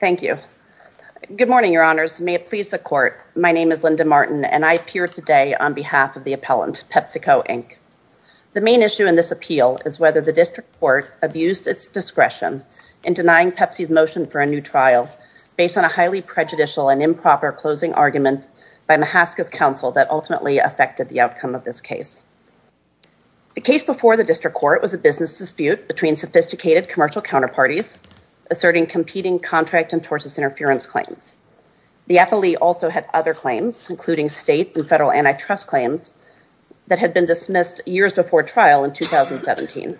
Thank you. Good morning, your honors. May it please the court. My name is Linda Martin, and I appear today on behalf of the appellant, Pepsico, Inc. The main issue in this appeal is whether the district court abused its discretion in denying Pepsi's motion for a new trial based on a highly prejudicial and improper closing argument by Mahaska's counsel that ultimately affected the outcome of this case. The case before the district court was a business dispute between sophisticated commercial counterparties asserting competing contract and tortious interference claims. The appellee also had other claims, including state and federal antitrust claims, that had been dismissed years before trial in 2017.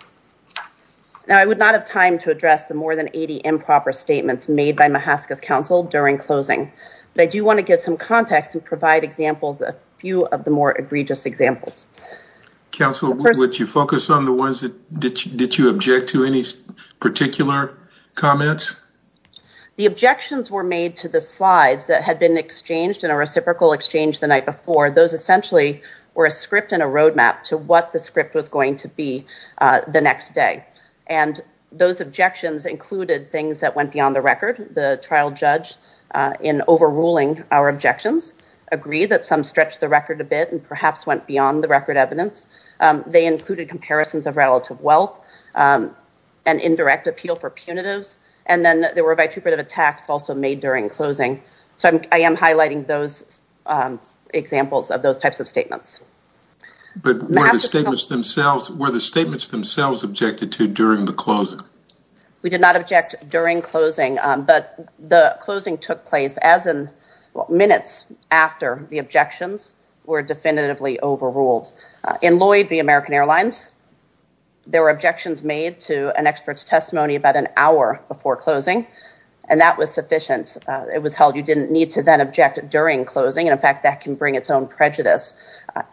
Now, I would not have time to address the more than 80 improper statements made by Mahaska's counsel during closing, but I do want to give some context and provide examples, a few of the more egregious examples. Counsel, would you focus on the ones that, did you object to any particular comments? The objections were made to the slides that had been exchanged in a reciprocal exchange the night before. Those essentially were a script and a roadmap to what the script was going to be the next day, and those objections included things that went beyond the record. The trial judge, in overruling our objections, agreed that some stretched the record a bit and perhaps went beyond the record evidence. They included comparisons of relative wealth, an indirect appeal for punitives, and then there were vitriol attacks also made during closing. So, I am highlighting those examples of those types of statements. But were the statements themselves, were the statements themselves objected to during the closing? We did not object during closing, but the closing took place as in minutes after the objections were definitively overruled. In Lloyd v. American Airlines, there were objections made to an expert's testimony about an hour before closing, and that was sufficient. It was held you did not need to then object during closing. In fact, that can bring its own prejudice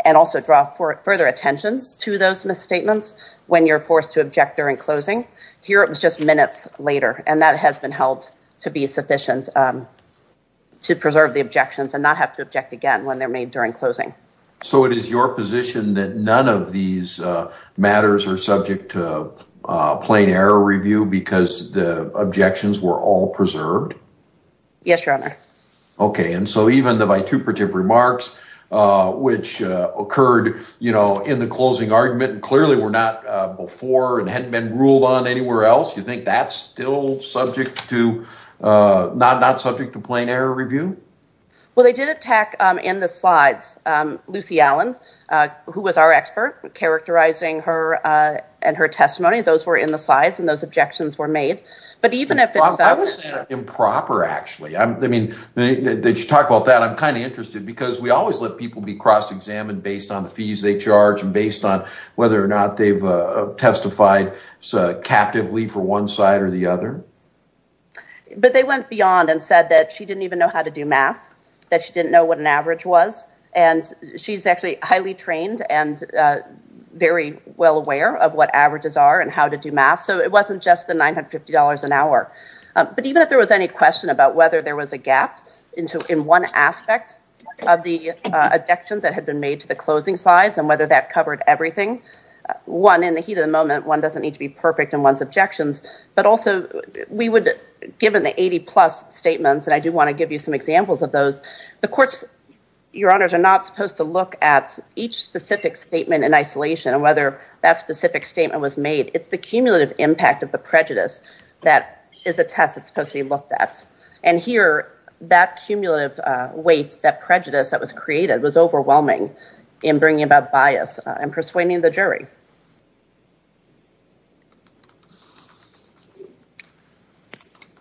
and also draw further attention to those misstatements when you are forced to object during closing. Here, it was just minutes later, and that has been held to be sufficient to preserve the objections and not have to object again when they're made during closing. So, it is your position that none of these matters are subject to plain error review because the objections were all preserved? Yes, Your Honor. Okay. And so, even the vituperative remarks, which occurred in the closing argument, clearly were not before and hadn't been ruled on anywhere else, you think that's still not subject to plain error review? Well, they did attack, in the slides, Lucy Allen, who was our expert, characterizing her and her testimony. Those were in the slides, and those objections were made. I wasn't improper, actually. I mean, did you talk about that? I'm kind of interested because we always let people be cross-examined based on the fees they charge and based on whether or not they've testified captively for one side or the other. But they went beyond and said that she didn't even know how to do math, that she didn't know what an average was, and she's actually highly trained and very well aware of what averages are and how to do math, so it wasn't just the $950 an hour. But even if there was any question about whether there was a gap in one aspect of the objections that had been made to the closing slides and whether that covered everything, one, in the heat of the moment, one doesn't need to be perfect in one's objections. But also, we would, given the 80-plus statements, and I do want to give you some examples of those, the courts, your honors, are not supposed to look at each specific statement in isolation and whether that specific statement was made. It's the cumulative impact of the prejudice that is a test that's supposed to be looked at. And here, that cumulative weight, that prejudice that was created, was overwhelming in bringing about bias and persuading the jury.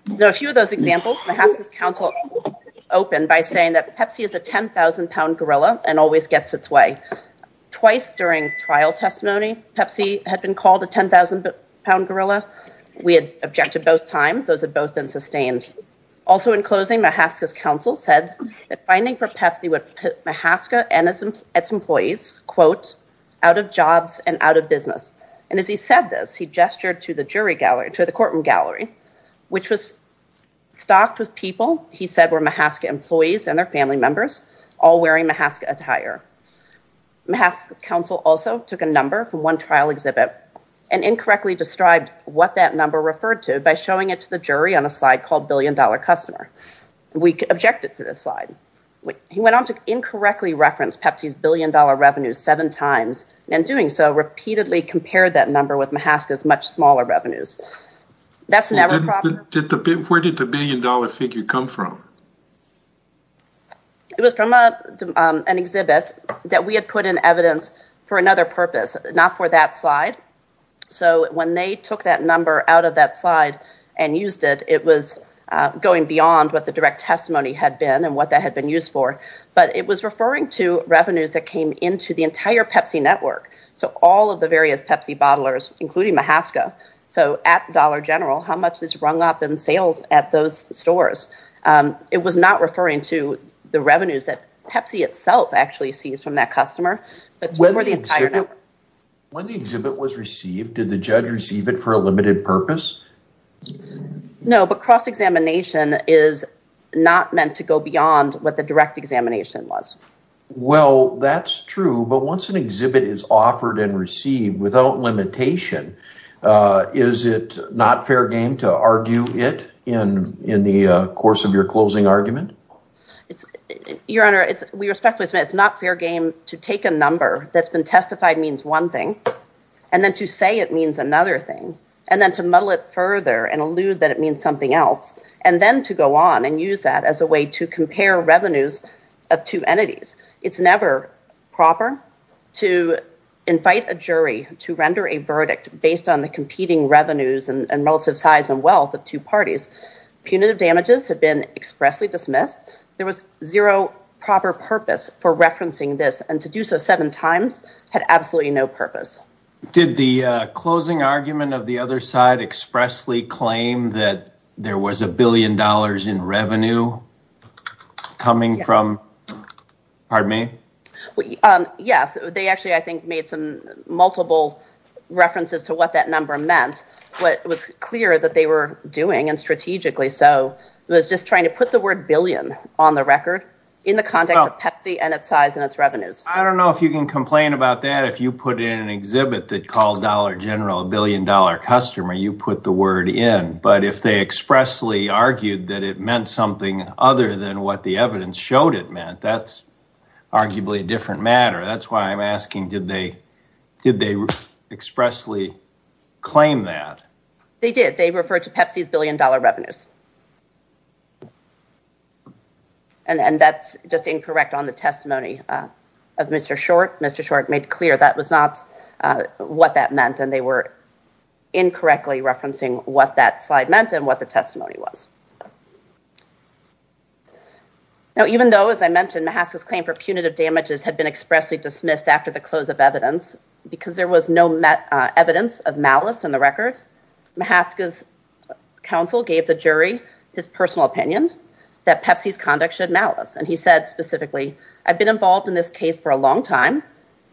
There are a few of those examples. Mahaska's counsel opened by saying that Pepsi is a 10,000-pound gorilla and always gets its way. Twice during trial testimony, Pepsi had been called a 10,000-pound gorilla. We had objected both times. Those had both been sustained. Also, in closing, Mahaska's counsel said that finding for Pepsi would put Mahaska and its employees, quote, out of jobs and out of business. And as he said this, he gestured to the courtroom gallery, which was stocked with people, he said, were Mahaska employees and their family members, all wearing Mahaska attire. Mahaska's counsel also took a number from one trial exhibit and incorrectly described what that number referred to by showing it to the jury on a $1 billion customer. We objected to this slide. He went on to incorrectly reference Pepsi's billion-dollar revenue seven times. In doing so, repeatedly compared that number with Mahaska's much smaller revenues. That's never a problem. Where did the billion-dollar figure come from? It was from an exhibit that we had put in evidence for another purpose, not for that slide. So when they took that number out of that slide and used it, it was going beyond what the direct testimony had been and what that had been used for. But it was referring to revenues that came into the entire Pepsi network. So all of the various Pepsi bottlers, including Mahaska. So at Dollar General, how much is rung up in sales at those stores? It was not referring to the revenues that Pepsi itself actually sees from that customer, but for the entire network. When the exhibit was received, did the judge receive it for a limited purpose? No, but cross-examination is not meant to go beyond what the direct examination was. Well, that's true. But once an exhibit is offered and received without limitation, is it not fair game to argue it in the course of your closing argument? It's, Your Honor, we respectfully submit it's not fair game to take a number that's been testified means one thing, and then to say it means another thing, and then to muddle it further and allude that it means something else, and then to go on and use that as a way to compare revenues of two entities. It's never proper to invite a jury to render a verdict based on the competing revenues and relative size and wealth of two parties. Punitive damages have been expressly dismissed. There was zero proper purpose for referencing this, and to do so seven times had absolutely no purpose. Did the closing argument of the other side expressly claim that there was a billion dollars in revenue coming from, pardon me? Yes. They actually, I think, made some multiple references to what that number meant. What was that they were doing, and strategically so, was just trying to put the word billion on the record in the context of Pepsi and its size and its revenues. I don't know if you can complain about that if you put in an exhibit that called Dollar General a billion-dollar customer. You put the word in. But if they expressly argued that it meant something other than what the evidence showed it meant, that's arguably a different matter. That's why I'm asking, did they expressly claim that? They did. They referred to Pepsi's billion-dollar revenues. And that's just incorrect on the testimony of Mr. Short. Mr. Short made clear that was not what that meant, and they were incorrectly referencing what that slide meant and what the testimony was. Now, even though, as I mentioned, Mahaska's claim for punitive damages had been expressly dismissed after the close of evidence because there was no evidence of malice in the record, Mahaska's counsel gave the jury his personal opinion that Pepsi's conduct showed malice. And he said specifically, I've been involved in this case for a long time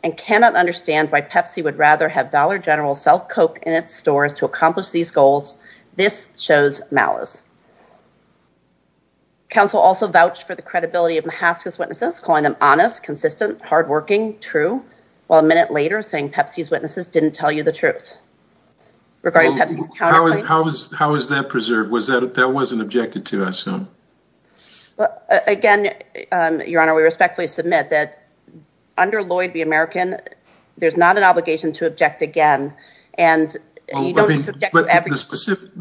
and cannot understand why Pepsi would rather have Dollar General sell Coke in its stores to accomplish these goals. This shows malice. Counsel also vouched for the credibility of Mahaska's witnesses, calling them honest, consistent, hardworking, true, while a minute later saying Pepsi's witnesses didn't tell you the truth. How is that preserved? That wasn't objected to, I assume. Again, Your Honor, we respectfully submit that under Lloyd v. American, there's not an obligation to object again. But the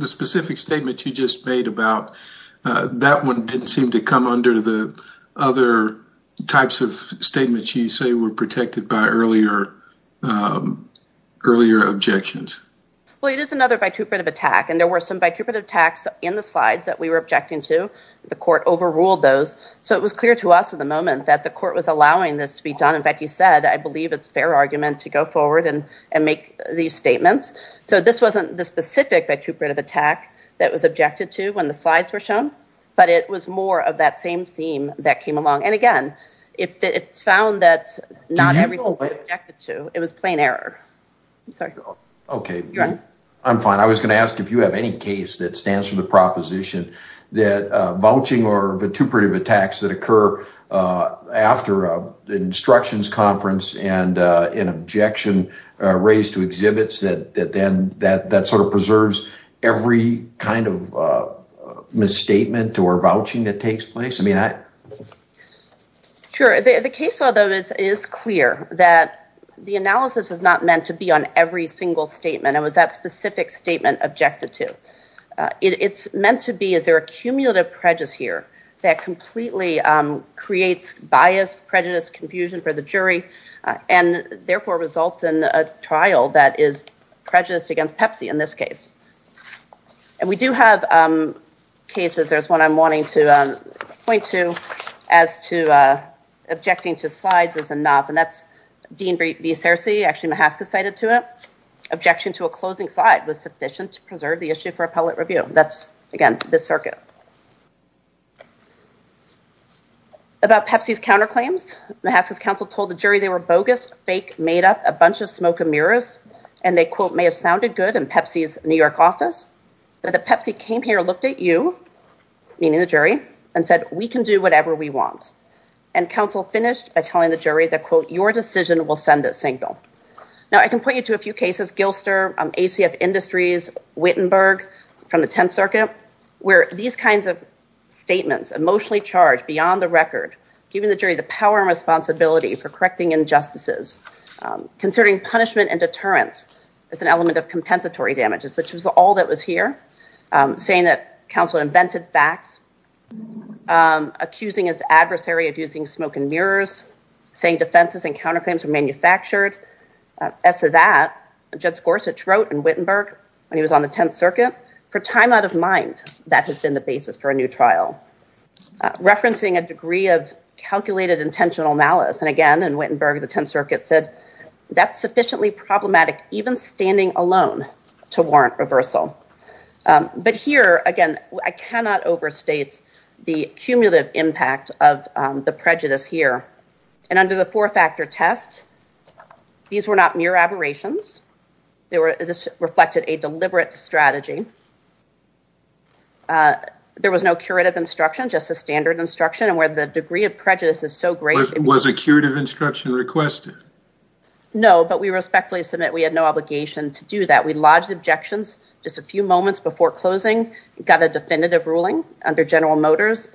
specific statement you just made about that one didn't seem to come under the other types of statements you say were protected by earlier objections. Well, it is another vituperative attack. And there were some vituperative attacks in the slides that we were objecting to. The court overruled those. So it was clear to us at the moment that the court was allowing this to be done. In fact, you said, I believe it's fair argument to go forward and make these statements. So this wasn't the specific vituperative attack that was objected to when the slides were shown, but it was more of that theme that came along. And again, if it's found that not everything was objected to, it was plain error. I'm sorry, Your Honor. Okay. I'm fine. I was going to ask if you have any case that stands for the proposition that vouching or vituperative attacks that occur after an instructions conference and an objection raised to exhibits that sort of preserves every kind of misstatement or vouching that takes place. Sure. The case is clear that the analysis is not meant to be on every single statement. It was that specific statement objected to. It's meant to be, is there a cumulative prejudice here that completely creates bias, prejudice, confusion for the jury, and therefore results in a trial that is prejudiced against Pepsi in this case. And we do have cases, there's one I'm wanting to point to, as to objecting to slides is enough, and that's Dean V. Searcy, actually Mahaska cited to it, objection to a closing slide was sufficient to preserve the issue for appellate review. That's, again, this circuit. About Pepsi's counterclaims, Mahaska's counsel told the jury they were bogus, fake, made up, a bunch of smoke and mirrors, and they, quote, may have sounded good in Pepsi's New York office, but the Pepsi came here, looked at you, meaning the jury, and said, we can do whatever we want. And counsel finished by telling the jury that, quote, your decision will send a signal. Now, I can point you to a few cases, Gilster, ACF Industries, Wittenberg, from the 10th Circuit, where these kinds of statements, emotionally charged, beyond the record, giving the jury the power and responsibility for correcting injustices, considering punishment and deterrence as an element of compensatory damages, which was all that was here, saying that counsel invented facts, accusing his adversary of using smoke and mirrors, saying defenses and counterclaims were manufactured. As to that, Judge Gorsuch wrote in Wittenberg, when he was on the 10th Circuit, for time out of mind, that had been the basis for a new trial. Referencing a degree of calculated intentional malice. And again, in Wittenberg, the 10th Circuit said, that's sufficiently problematic, even standing alone, to warrant reversal. But here, again, I cannot overstate the cumulative impact of the prejudice here. And under the four-factor test, these were not mere aberrations. This reflected a deliberate strategy. There was no curative instruction, just a standard instruction, and where the degree of prejudice is so great. Was a curative instruction requested? No, but we respectfully submit, we had no obligation to do that. We lodged objections just a few moments before closing, got a definitive ruling under General Motors.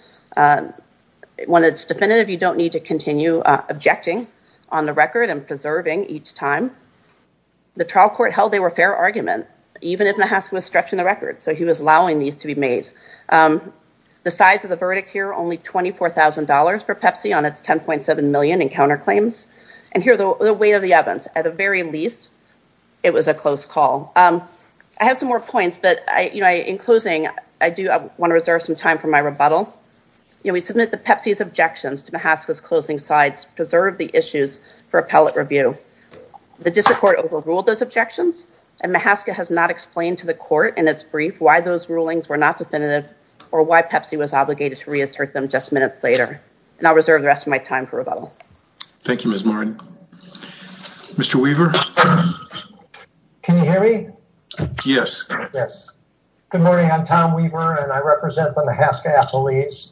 When it's definitive, you don't need to continue objecting on the record and preserving each time. The trial court held they were fair argument. Even if Mahaska was stretched in the wrong direction, he was allowing these to be made. The size of the verdict here, only $24,000 for Pepsi on its $10.7 million in counterclaims. And here, the weight of the evidence, at the very least, it was a close call. I have some more points, but in closing, I do want to reserve some time for my rebuttal. We submit that Pepsi's objections to Mahaska's closing sides preserved the issues for appellate review. The district court overruled those objections, and Mahaska has not explained to court in its brief why those rulings were not definitive or why Pepsi was obligated to reassert them just minutes later. And I'll reserve the rest of my time for rebuttal. Thank you, Ms. Martin. Mr. Weaver. Can you hear me? Yes. Yes. Good morning. I'm Tom Weaver, and I represent the Mahaska appellees.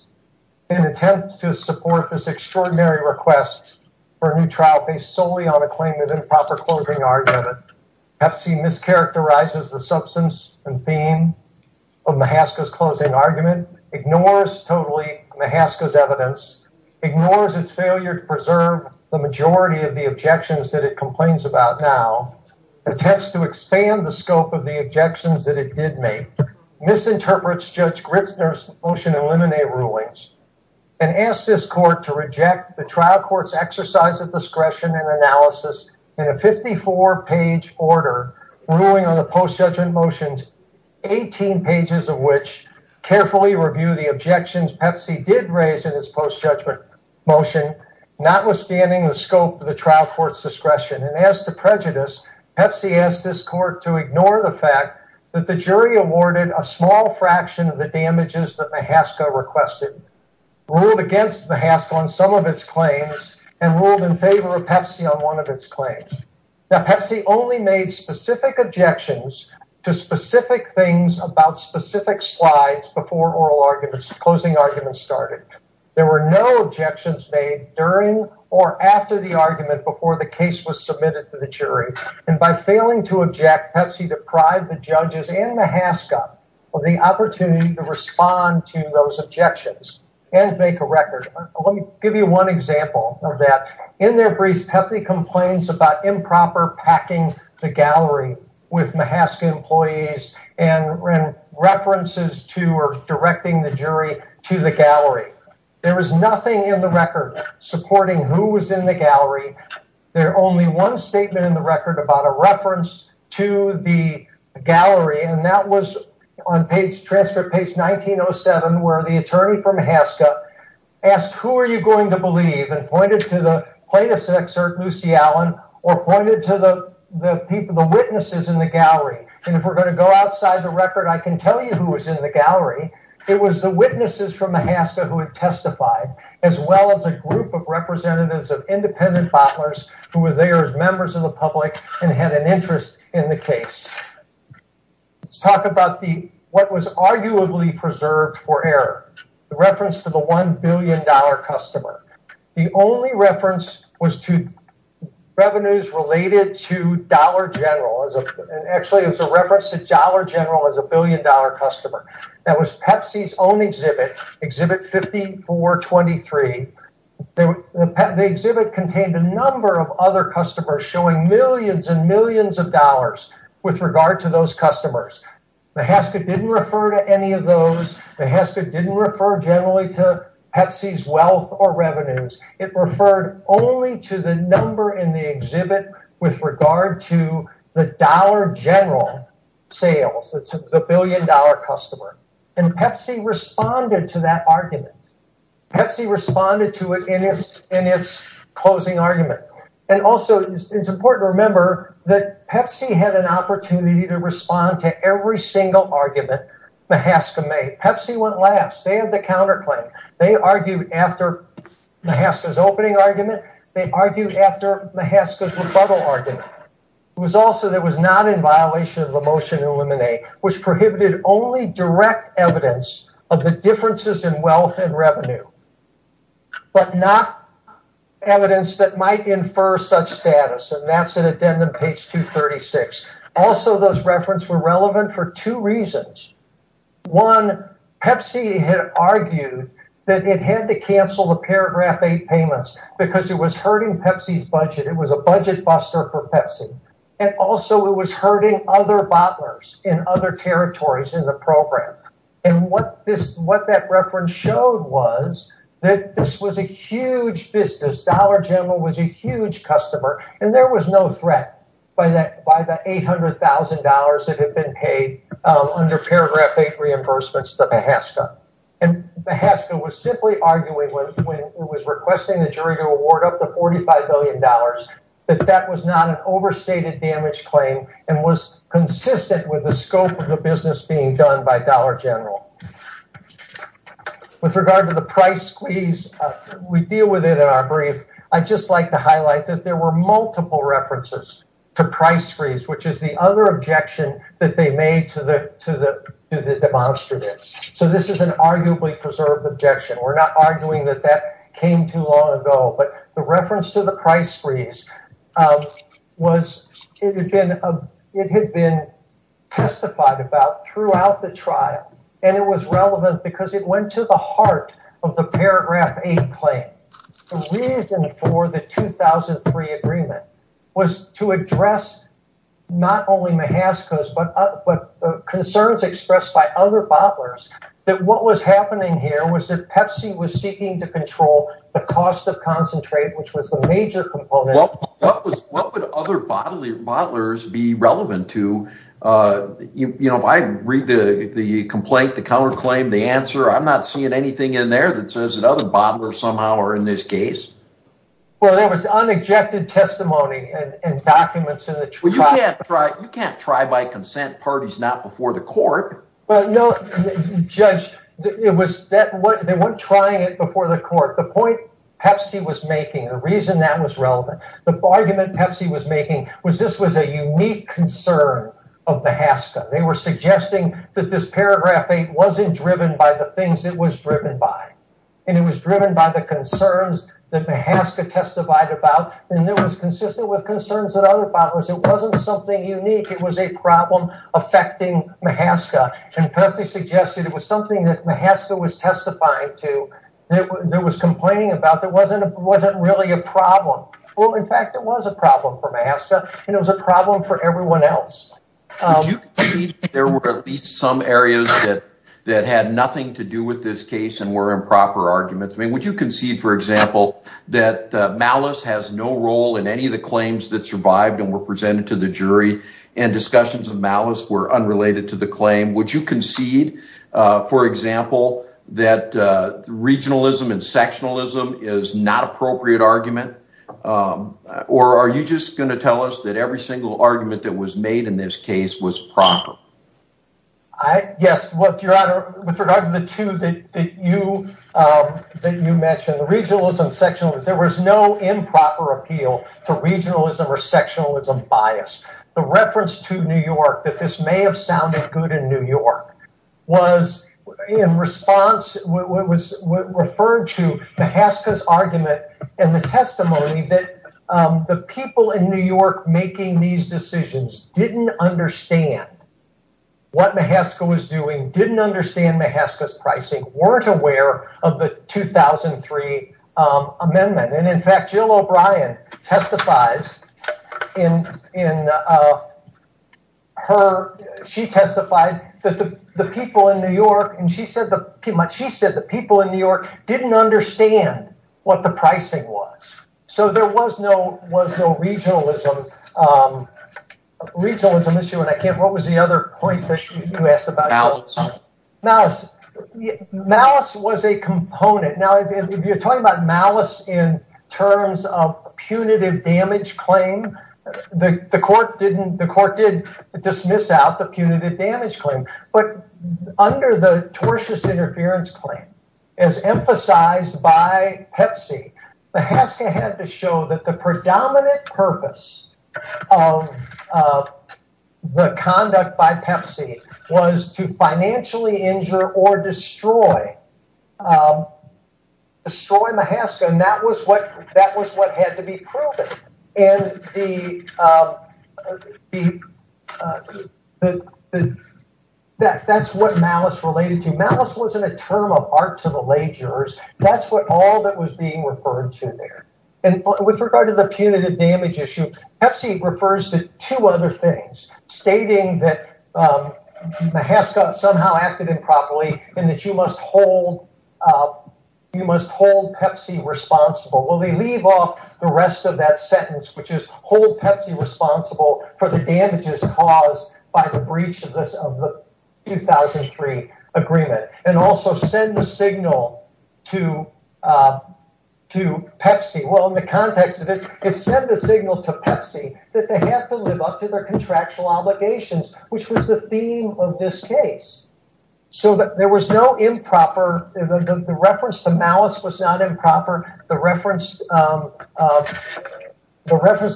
In an attempt to support this extraordinary request for a new trial based solely on a claim of improper closing argument, Pepsi mischaracterizes the substance and theme of Mahaska's closing argument, ignores totally Mahaska's evidence, ignores its failure to preserve the majority of the objections that it complains about now, attempts to expand the scope of the objections that it did make, misinterprets Judge Gritzner's motion in Lemonade rulings, and asks this court to reject the trial court's exercise of discretion and analysis in a 54-page order ruling on the post-judgment motions, 18 pages of which carefully review the objections Pepsi did raise in its post-judgment motion, notwithstanding the scope of the trial court's discretion. And as to prejudice, Pepsi asked this court to ignore the fact that the jury awarded a small fraction of the damages that Mahaska requested, ruled against Mahaska on some of its claims, and ruled in favor of Pepsi on one of its claims. Now, Pepsi only made specific objections to specific things about specific slides before oral arguments, closing arguments started. There were no objections made during or after the argument before the case was submitted to the jury, and by failing to object, Pepsi deprived the judges and Mahaska of the opportunity to respond to those objections and make a record. Let me give you one example of that. In their briefs, Pepsi complains about improper packing the gallery with Mahaska employees and references to or directing the jury to the gallery. There was nothing in the record supporting who was in the gallery. There's only one statement in the gallery, and that was on page, transcript page 1907, where the attorney from Mahaska asked, who are you going to believe, and pointed to the plaintiff's excerpt, Lucy Allen, or pointed to the people, the witnesses in the gallery. And if we're going to go outside the record, I can tell you who was in the gallery. It was the witnesses from Mahaska who had testified, as well as a group of representatives of independent bottlers who were there as well. Let's talk about what was arguably preserved for error, the reference to the $1 billion customer. The only reference was to revenues related to Dollar General. Actually, it was a reference to Dollar General as a billion dollar customer. That was Pepsi's own exhibit, exhibit 5423. The exhibit contained a number of other customers showing millions and millions of dollars with regard to those customers. Mahaska didn't refer to any of those. Mahaska didn't refer generally to Pepsi's wealth or revenues. It referred only to the number in the exhibit with regard to the Dollar General sales, the billion dollar customer. And Pepsi responded to that argument. Pepsi responded to it in its closing argument. And also, it's important to note that Pepsi had an opportunity to respond to every single argument Mahaska made. Pepsi went last. They had the counterclaim. They argued after Mahaska's opening argument. They argued after Mahaska's rebuttal argument. It was also that it was not in violation of the motion to eliminate, which prohibited only direct evidence of the differences in wealth and revenue. But not evidence that might infer such status. And that's an addendum to page 236. Also, those references were relevant for two reasons. One, Pepsi had argued that it had to cancel the paragraph 8 payments because it was hurting Pepsi's budget. It was a budget buster for Pepsi. And also, it was hurting other bottlers in other territories in the program. And what that reference showed was that this was a huge business. Dollar General was a huge customer. And there was no threat by the $800,000 that had been paid under paragraph 8 reimbursements to Mahaska. And Mahaska was simply arguing when it was requesting the jury to award up to $45 billion that that was not an overstated damage claim and was consistent with the scope of the being done by Dollar General. With regard to the price squeeze, we deal with it in our brief. I'd just like to highlight that there were multiple references to price squeeze, which is the other objection that they made to the demonstrators. So, this is an arguably preserved objection. We're not arguing that that came too long ago. But the reference to the price testified about throughout the trial. And it was relevant because it went to the heart of the paragraph 8 claim. The reason for the 2003 agreement was to address not only Mahaska's, but concerns expressed by other bottlers that what was happening here was that Pepsi was seeking to control the cost of concentrate, which was the major component. What would other bottlers be relevant to? If I read the complaint, the counterclaim, the answer, I'm not seeing anything in there that says that other bottlers somehow are in this case. Well, there was unobjected testimony and documents in the trial. Well, you can't try by consent parties not before the court. Well, no, Judge. They weren't trying it before the court. The point Pepsi was making, the reason that was relevant, the argument Pepsi was making was this was a unique concern of Mahaska. They were suggesting that this paragraph 8 wasn't driven by the things it was driven by. And it was driven by the concerns that Mahaska testified about. And it was consistent with concerns of other bottlers. It wasn't something unique. It was a problem affecting Mahaska. And Pepsi suggested it was something that Mahaska was testifying to, that was complaining about. It wasn't really a problem. Well, in fact, it was a problem for Mahaska. And it was a problem for everyone else. Would you concede that there were at least some areas that had nothing to do with this case and were improper arguments? I mean, would you concede, for example, that malice has no role in any of the claims that survived and were presented to the jury and discussions of malice were unrelated to the claim? Would you concede, for example, that regionalism and sectionalism is not an appropriate argument? Or are you just going to tell us that every single argument that was made in this case was proper? Yes. With regard to the two that you mentioned, regionalism and sectionalism, there was no improper appeal to regionalism or sectionalism bias. The reference to New York that this may sound good in New York was in response to Mahaska's argument and the testimony that the people in New York making these decisions didn't understand what Mahaska was doing, didn't understand Mahaska's pricing, weren't aware of the 2003 amendment. And in fact, Jill O'Brien testifies in her, she testified that the people in New York, and she said the people in New York didn't understand what the pricing was. So there was no regionalism issue. And I can't, what was the other point that you asked about? Malice. Malice. Malice was a component. Now, if you're talking about malice in terms of punitive damage claim, the court didn't, the court did dismiss out the punitive damage claim. But under the tortious interference claim, as emphasized by Pepsi, Mahaska had to show that the predominant purpose of the conduct by Pepsi was to financially injure or destroy Mahaska. And that was what had to be proven. And that's what malice related to. Malice wasn't a term of art to the lay jurors. That's what all that was being referred to there. And with regard to the punitive damage issue, Pepsi refers to two other things stating that Mahaska somehow acted improperly and that you must hold, you must hold Pepsi responsible. Well, they leave off the rest of that sentence, which is hold Pepsi responsible for the damages caused by the breach of the 2003 agreement. And also send the signal to Pepsi. Well, in the context of this, it sent the signal to Pepsi that they have to live up to their contractual obligations, which was the theme of this case. So that there was no improper, the reference to malice was not improper. The reference,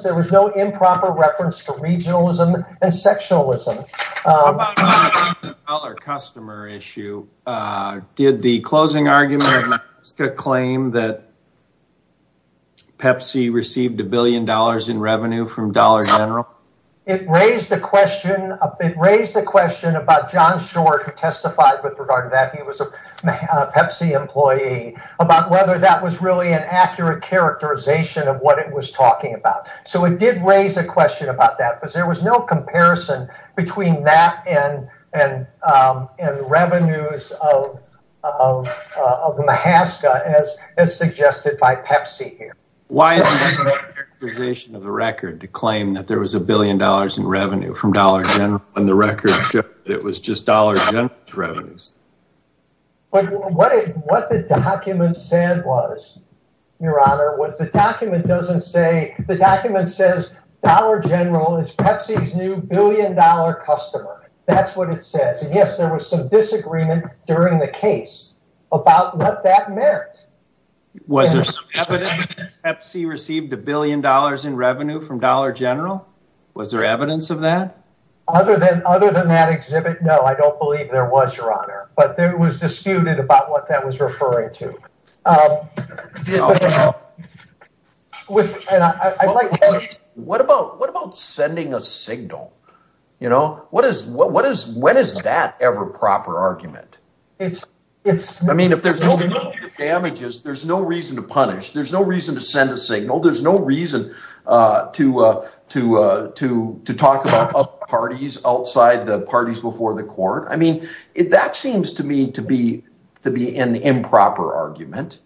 there was no improper reference to regionalism and sexualism. How about the dollar customer issue? Did the closing argument of Mahaska claim that Pepsi received a billion dollars in revenue from Dollar General? It raised the question about John Short, who testified with regard to that. He was a Pepsi employee about whether that was really an accurate characterization of what it was and revenues of Mahaska, as suggested by Pepsi here. Why is the characterization of the record to claim that there was a billion dollars in revenue from Dollar General when the record showed that it was just Dollar General's revenues? But what the document said was, Your Honor, was the document doesn't say, the document says Dollar General is Pepsi's new billion dollar customer. That's what it says. Yes, there was some disagreement during the case about what that meant. Was there evidence that Pepsi received a billion dollars in revenue from Dollar General? Was there evidence of that? Other than that exhibit? No, I don't believe there was, Your Honor. But there was disputed about what that was referring to. What about sending a signal? When is that ever a proper argument? I mean, if there's no damages, there's no reason to punish. There's no reason to send a signal. There's no reason to talk about parties outside the parties before the court. I mean, that seems to me to be an improper argument.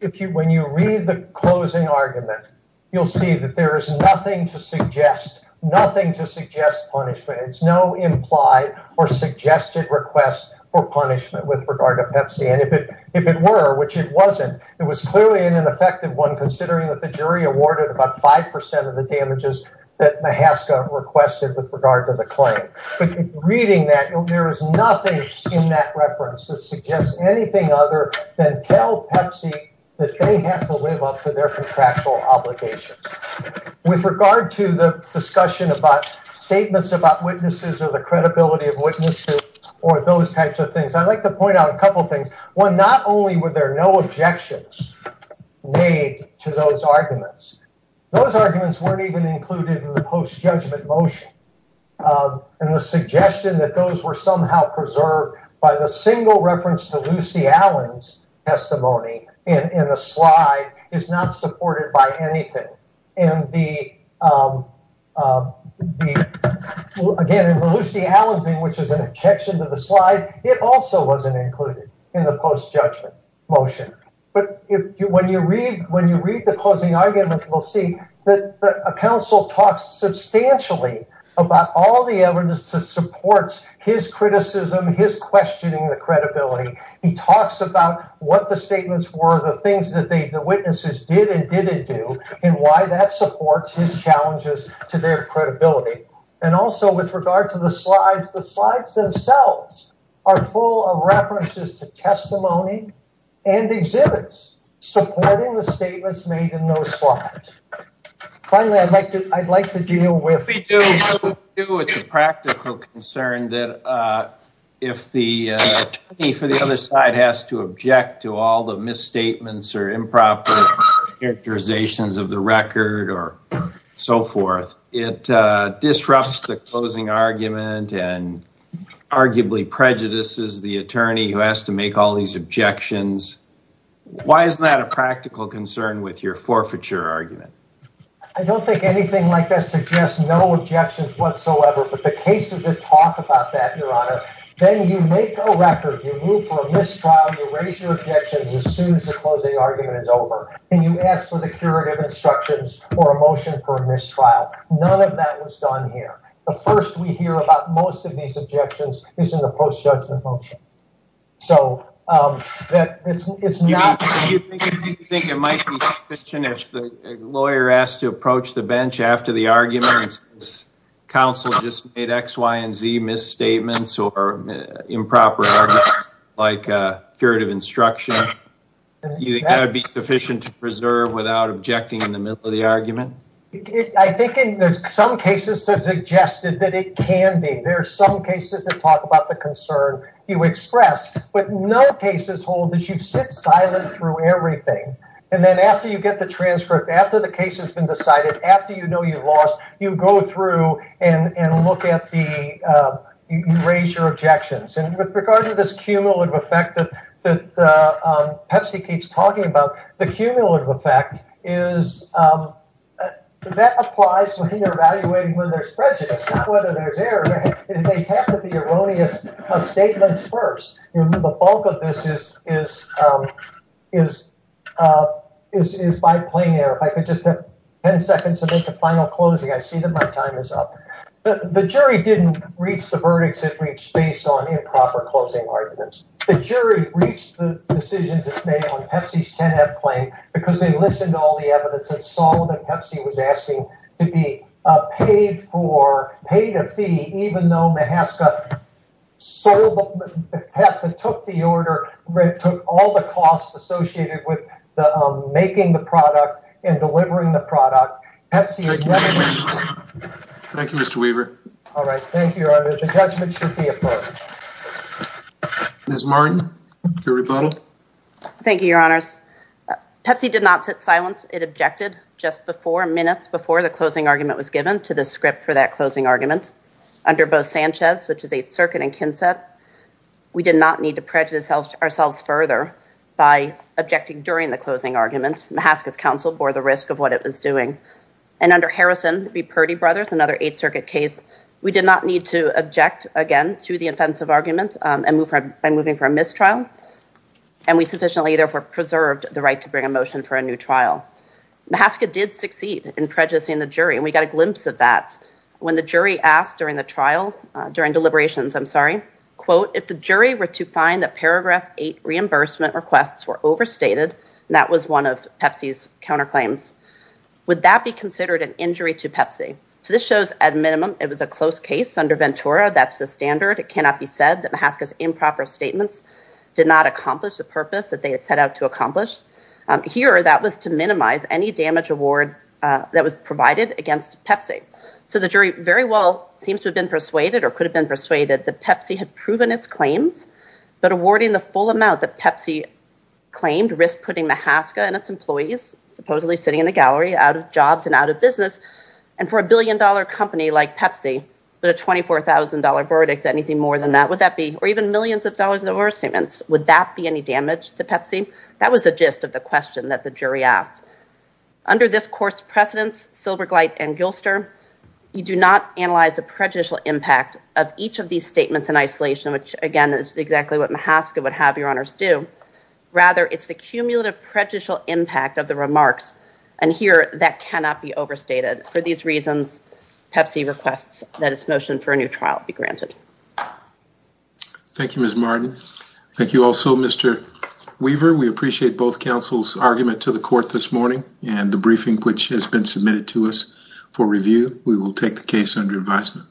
When you read the closing argument, you'll see that there is nothing to suggest, nothing to suggest punishment. It's no implied or suggested request for punishment with regard to Pepsi. And if it were, which it wasn't, it was clearly an ineffective one considering that the jury awarded about 5% of the damages that Mahaska requested with regard to the claim. But reading that, there is nothing in that reference that suggests anything other than tell Pepsi that they have to live up to their contractual obligations. With regard to the discussion about statements about witnesses or the credibility of witnesses or those types of things, I'd like to point out a couple of things. One, not only were there no objections made to those arguments, those arguments weren't even included in the post-judgment motion. And the suggestion that those were somehow preserved by the single reference to Lucy Allen's testimony in the slide is not supported by anything. And the, again, in the Lucy Allen thing, which is an objection to the slide, it also wasn't included in the post-judgment motion. But when you read the closing argument, we'll see that a counsel talks substantially about all the evidence that supports his criticism, his questioning the credibility. He talks about what the statements were, the things that they, the witnesses did and didn't do, and why that supports his challenges to their credibility. And also with regard to the slides, the slides themselves are full of references to testimony and exhibits supporting the statements made in those slides. Finally, I'd like to, I'd like to deal with the practical concern that if the attorney for the other side has to object to all the misstatements or improper characterizations of the record or so forth, it disrupts the closing argument and arguably prejudices the attorney who has to make all these objections. Why is that a practical concern with your forfeiture argument? I don't think anything like that suggests no objections whatsoever, but the cases that talk about that, your honor, then you make a record, you move for a mistrial, you raise your objections as soon as the closing argument is over and you ask for the curative instructions for a motion for a mistrial. None of that was done here. The first we hear about most of these objections is in the post-judgment function. So, um, that it's, it's not, Do you think it might be sufficient if the lawyer asked to approach the bench after the argument, counsel just made X, Y, and Z misstatements or improper arguments like a curative instruction, you think that would be sufficient to preserve without objecting in the middle of the argument? I think in some cases that suggested that it can be, there are some cases that talk about the concern you expressed, but no cases hold that you sit silent through everything. And then after you get the transcript, after the case has been decided, after you know, you've lost, you go through and, and look at the, uh, you raise your objections. And with regard to this cumulative effect that, that, uh, um, Pepsi keeps talking about the cumulative effect is, um, that applies when you're evaluating whether there's prejudice, whether there's error, if they have to be erroneous of statements first, the bulk of this is, is, um, is, uh, is, is by playing it. If I could just have 10 seconds to make a final closing. I see that my time is up. The jury didn't reach the verdicts that reached based on improper closing arguments. The jury reached the decision to stay on Pepsi's 10 F claim because they listened to all the evidence and saw that Pepsi was asking to be paid for, paid a fee, even though Mahaska sold, took the order, took all the costs associated with the, um, making the product and delivering the product. Thank you, Mr. Weaver. All right. Thank you. The judgment should be Ms. Martin, your rebuttal. Thank you, your honors. Pepsi did not sit silent. It objected just before minutes before the closing argument was given to the script for that closing argument under both Sanchez, which is eighth circuit and Kinset. We did not need to prejudice ourselves further by objecting during the closing argument. Mahaska's counsel bore the risk of what it was doing. And under Harrison, the Purdy brothers, another eighth circuit case, we did not need to and move by moving for a mistrial. And we sufficiently therefore preserved the right to bring a motion for a new trial. Mahaska did succeed in prejudicing the jury. And we got a glimpse of that when the jury asked during the trial, during deliberations, I'm sorry, quote, if the jury were to find that paragraph eight reimbursement requests were overstated, and that was one of Pepsi's counterclaims, would that be considered an injury to Pepsi? So this shows at minimum, it was a close case under Ventura. That's the standard. It cannot be said that Mahaska's improper statements did not accomplish the purpose that they had set out to accomplish. Here, that was to minimize any damage award that was provided against Pepsi. So the jury very well seems to have been persuaded or could have been persuaded that Pepsi had proven its claims, but awarding the full amount that Pepsi claimed risked putting Mahaska and its billion-dollar company like Pepsi, but a $24,000 verdict, anything more than that, would that be, or even millions of dollars in overstatements, would that be any damage to Pepsi? That was the gist of the question that the jury asked. Under this court's precedence, Silbergleit and Gilster, you do not analyze the prejudicial impact of each of these statements in isolation, which again, is exactly what Mahaska would have your honors do. Rather, it's the cumulative prejudicial impact of the remarks. And here, that cannot be overstated for these reasons, Pepsi requests that its motion for a new trial be granted. Thank you, Ms. Martin. Thank you also, Mr. Weaver. We appreciate both counsel's argument to the court this morning and the briefing, which has been submitted to us for review. We will take the case under advisement.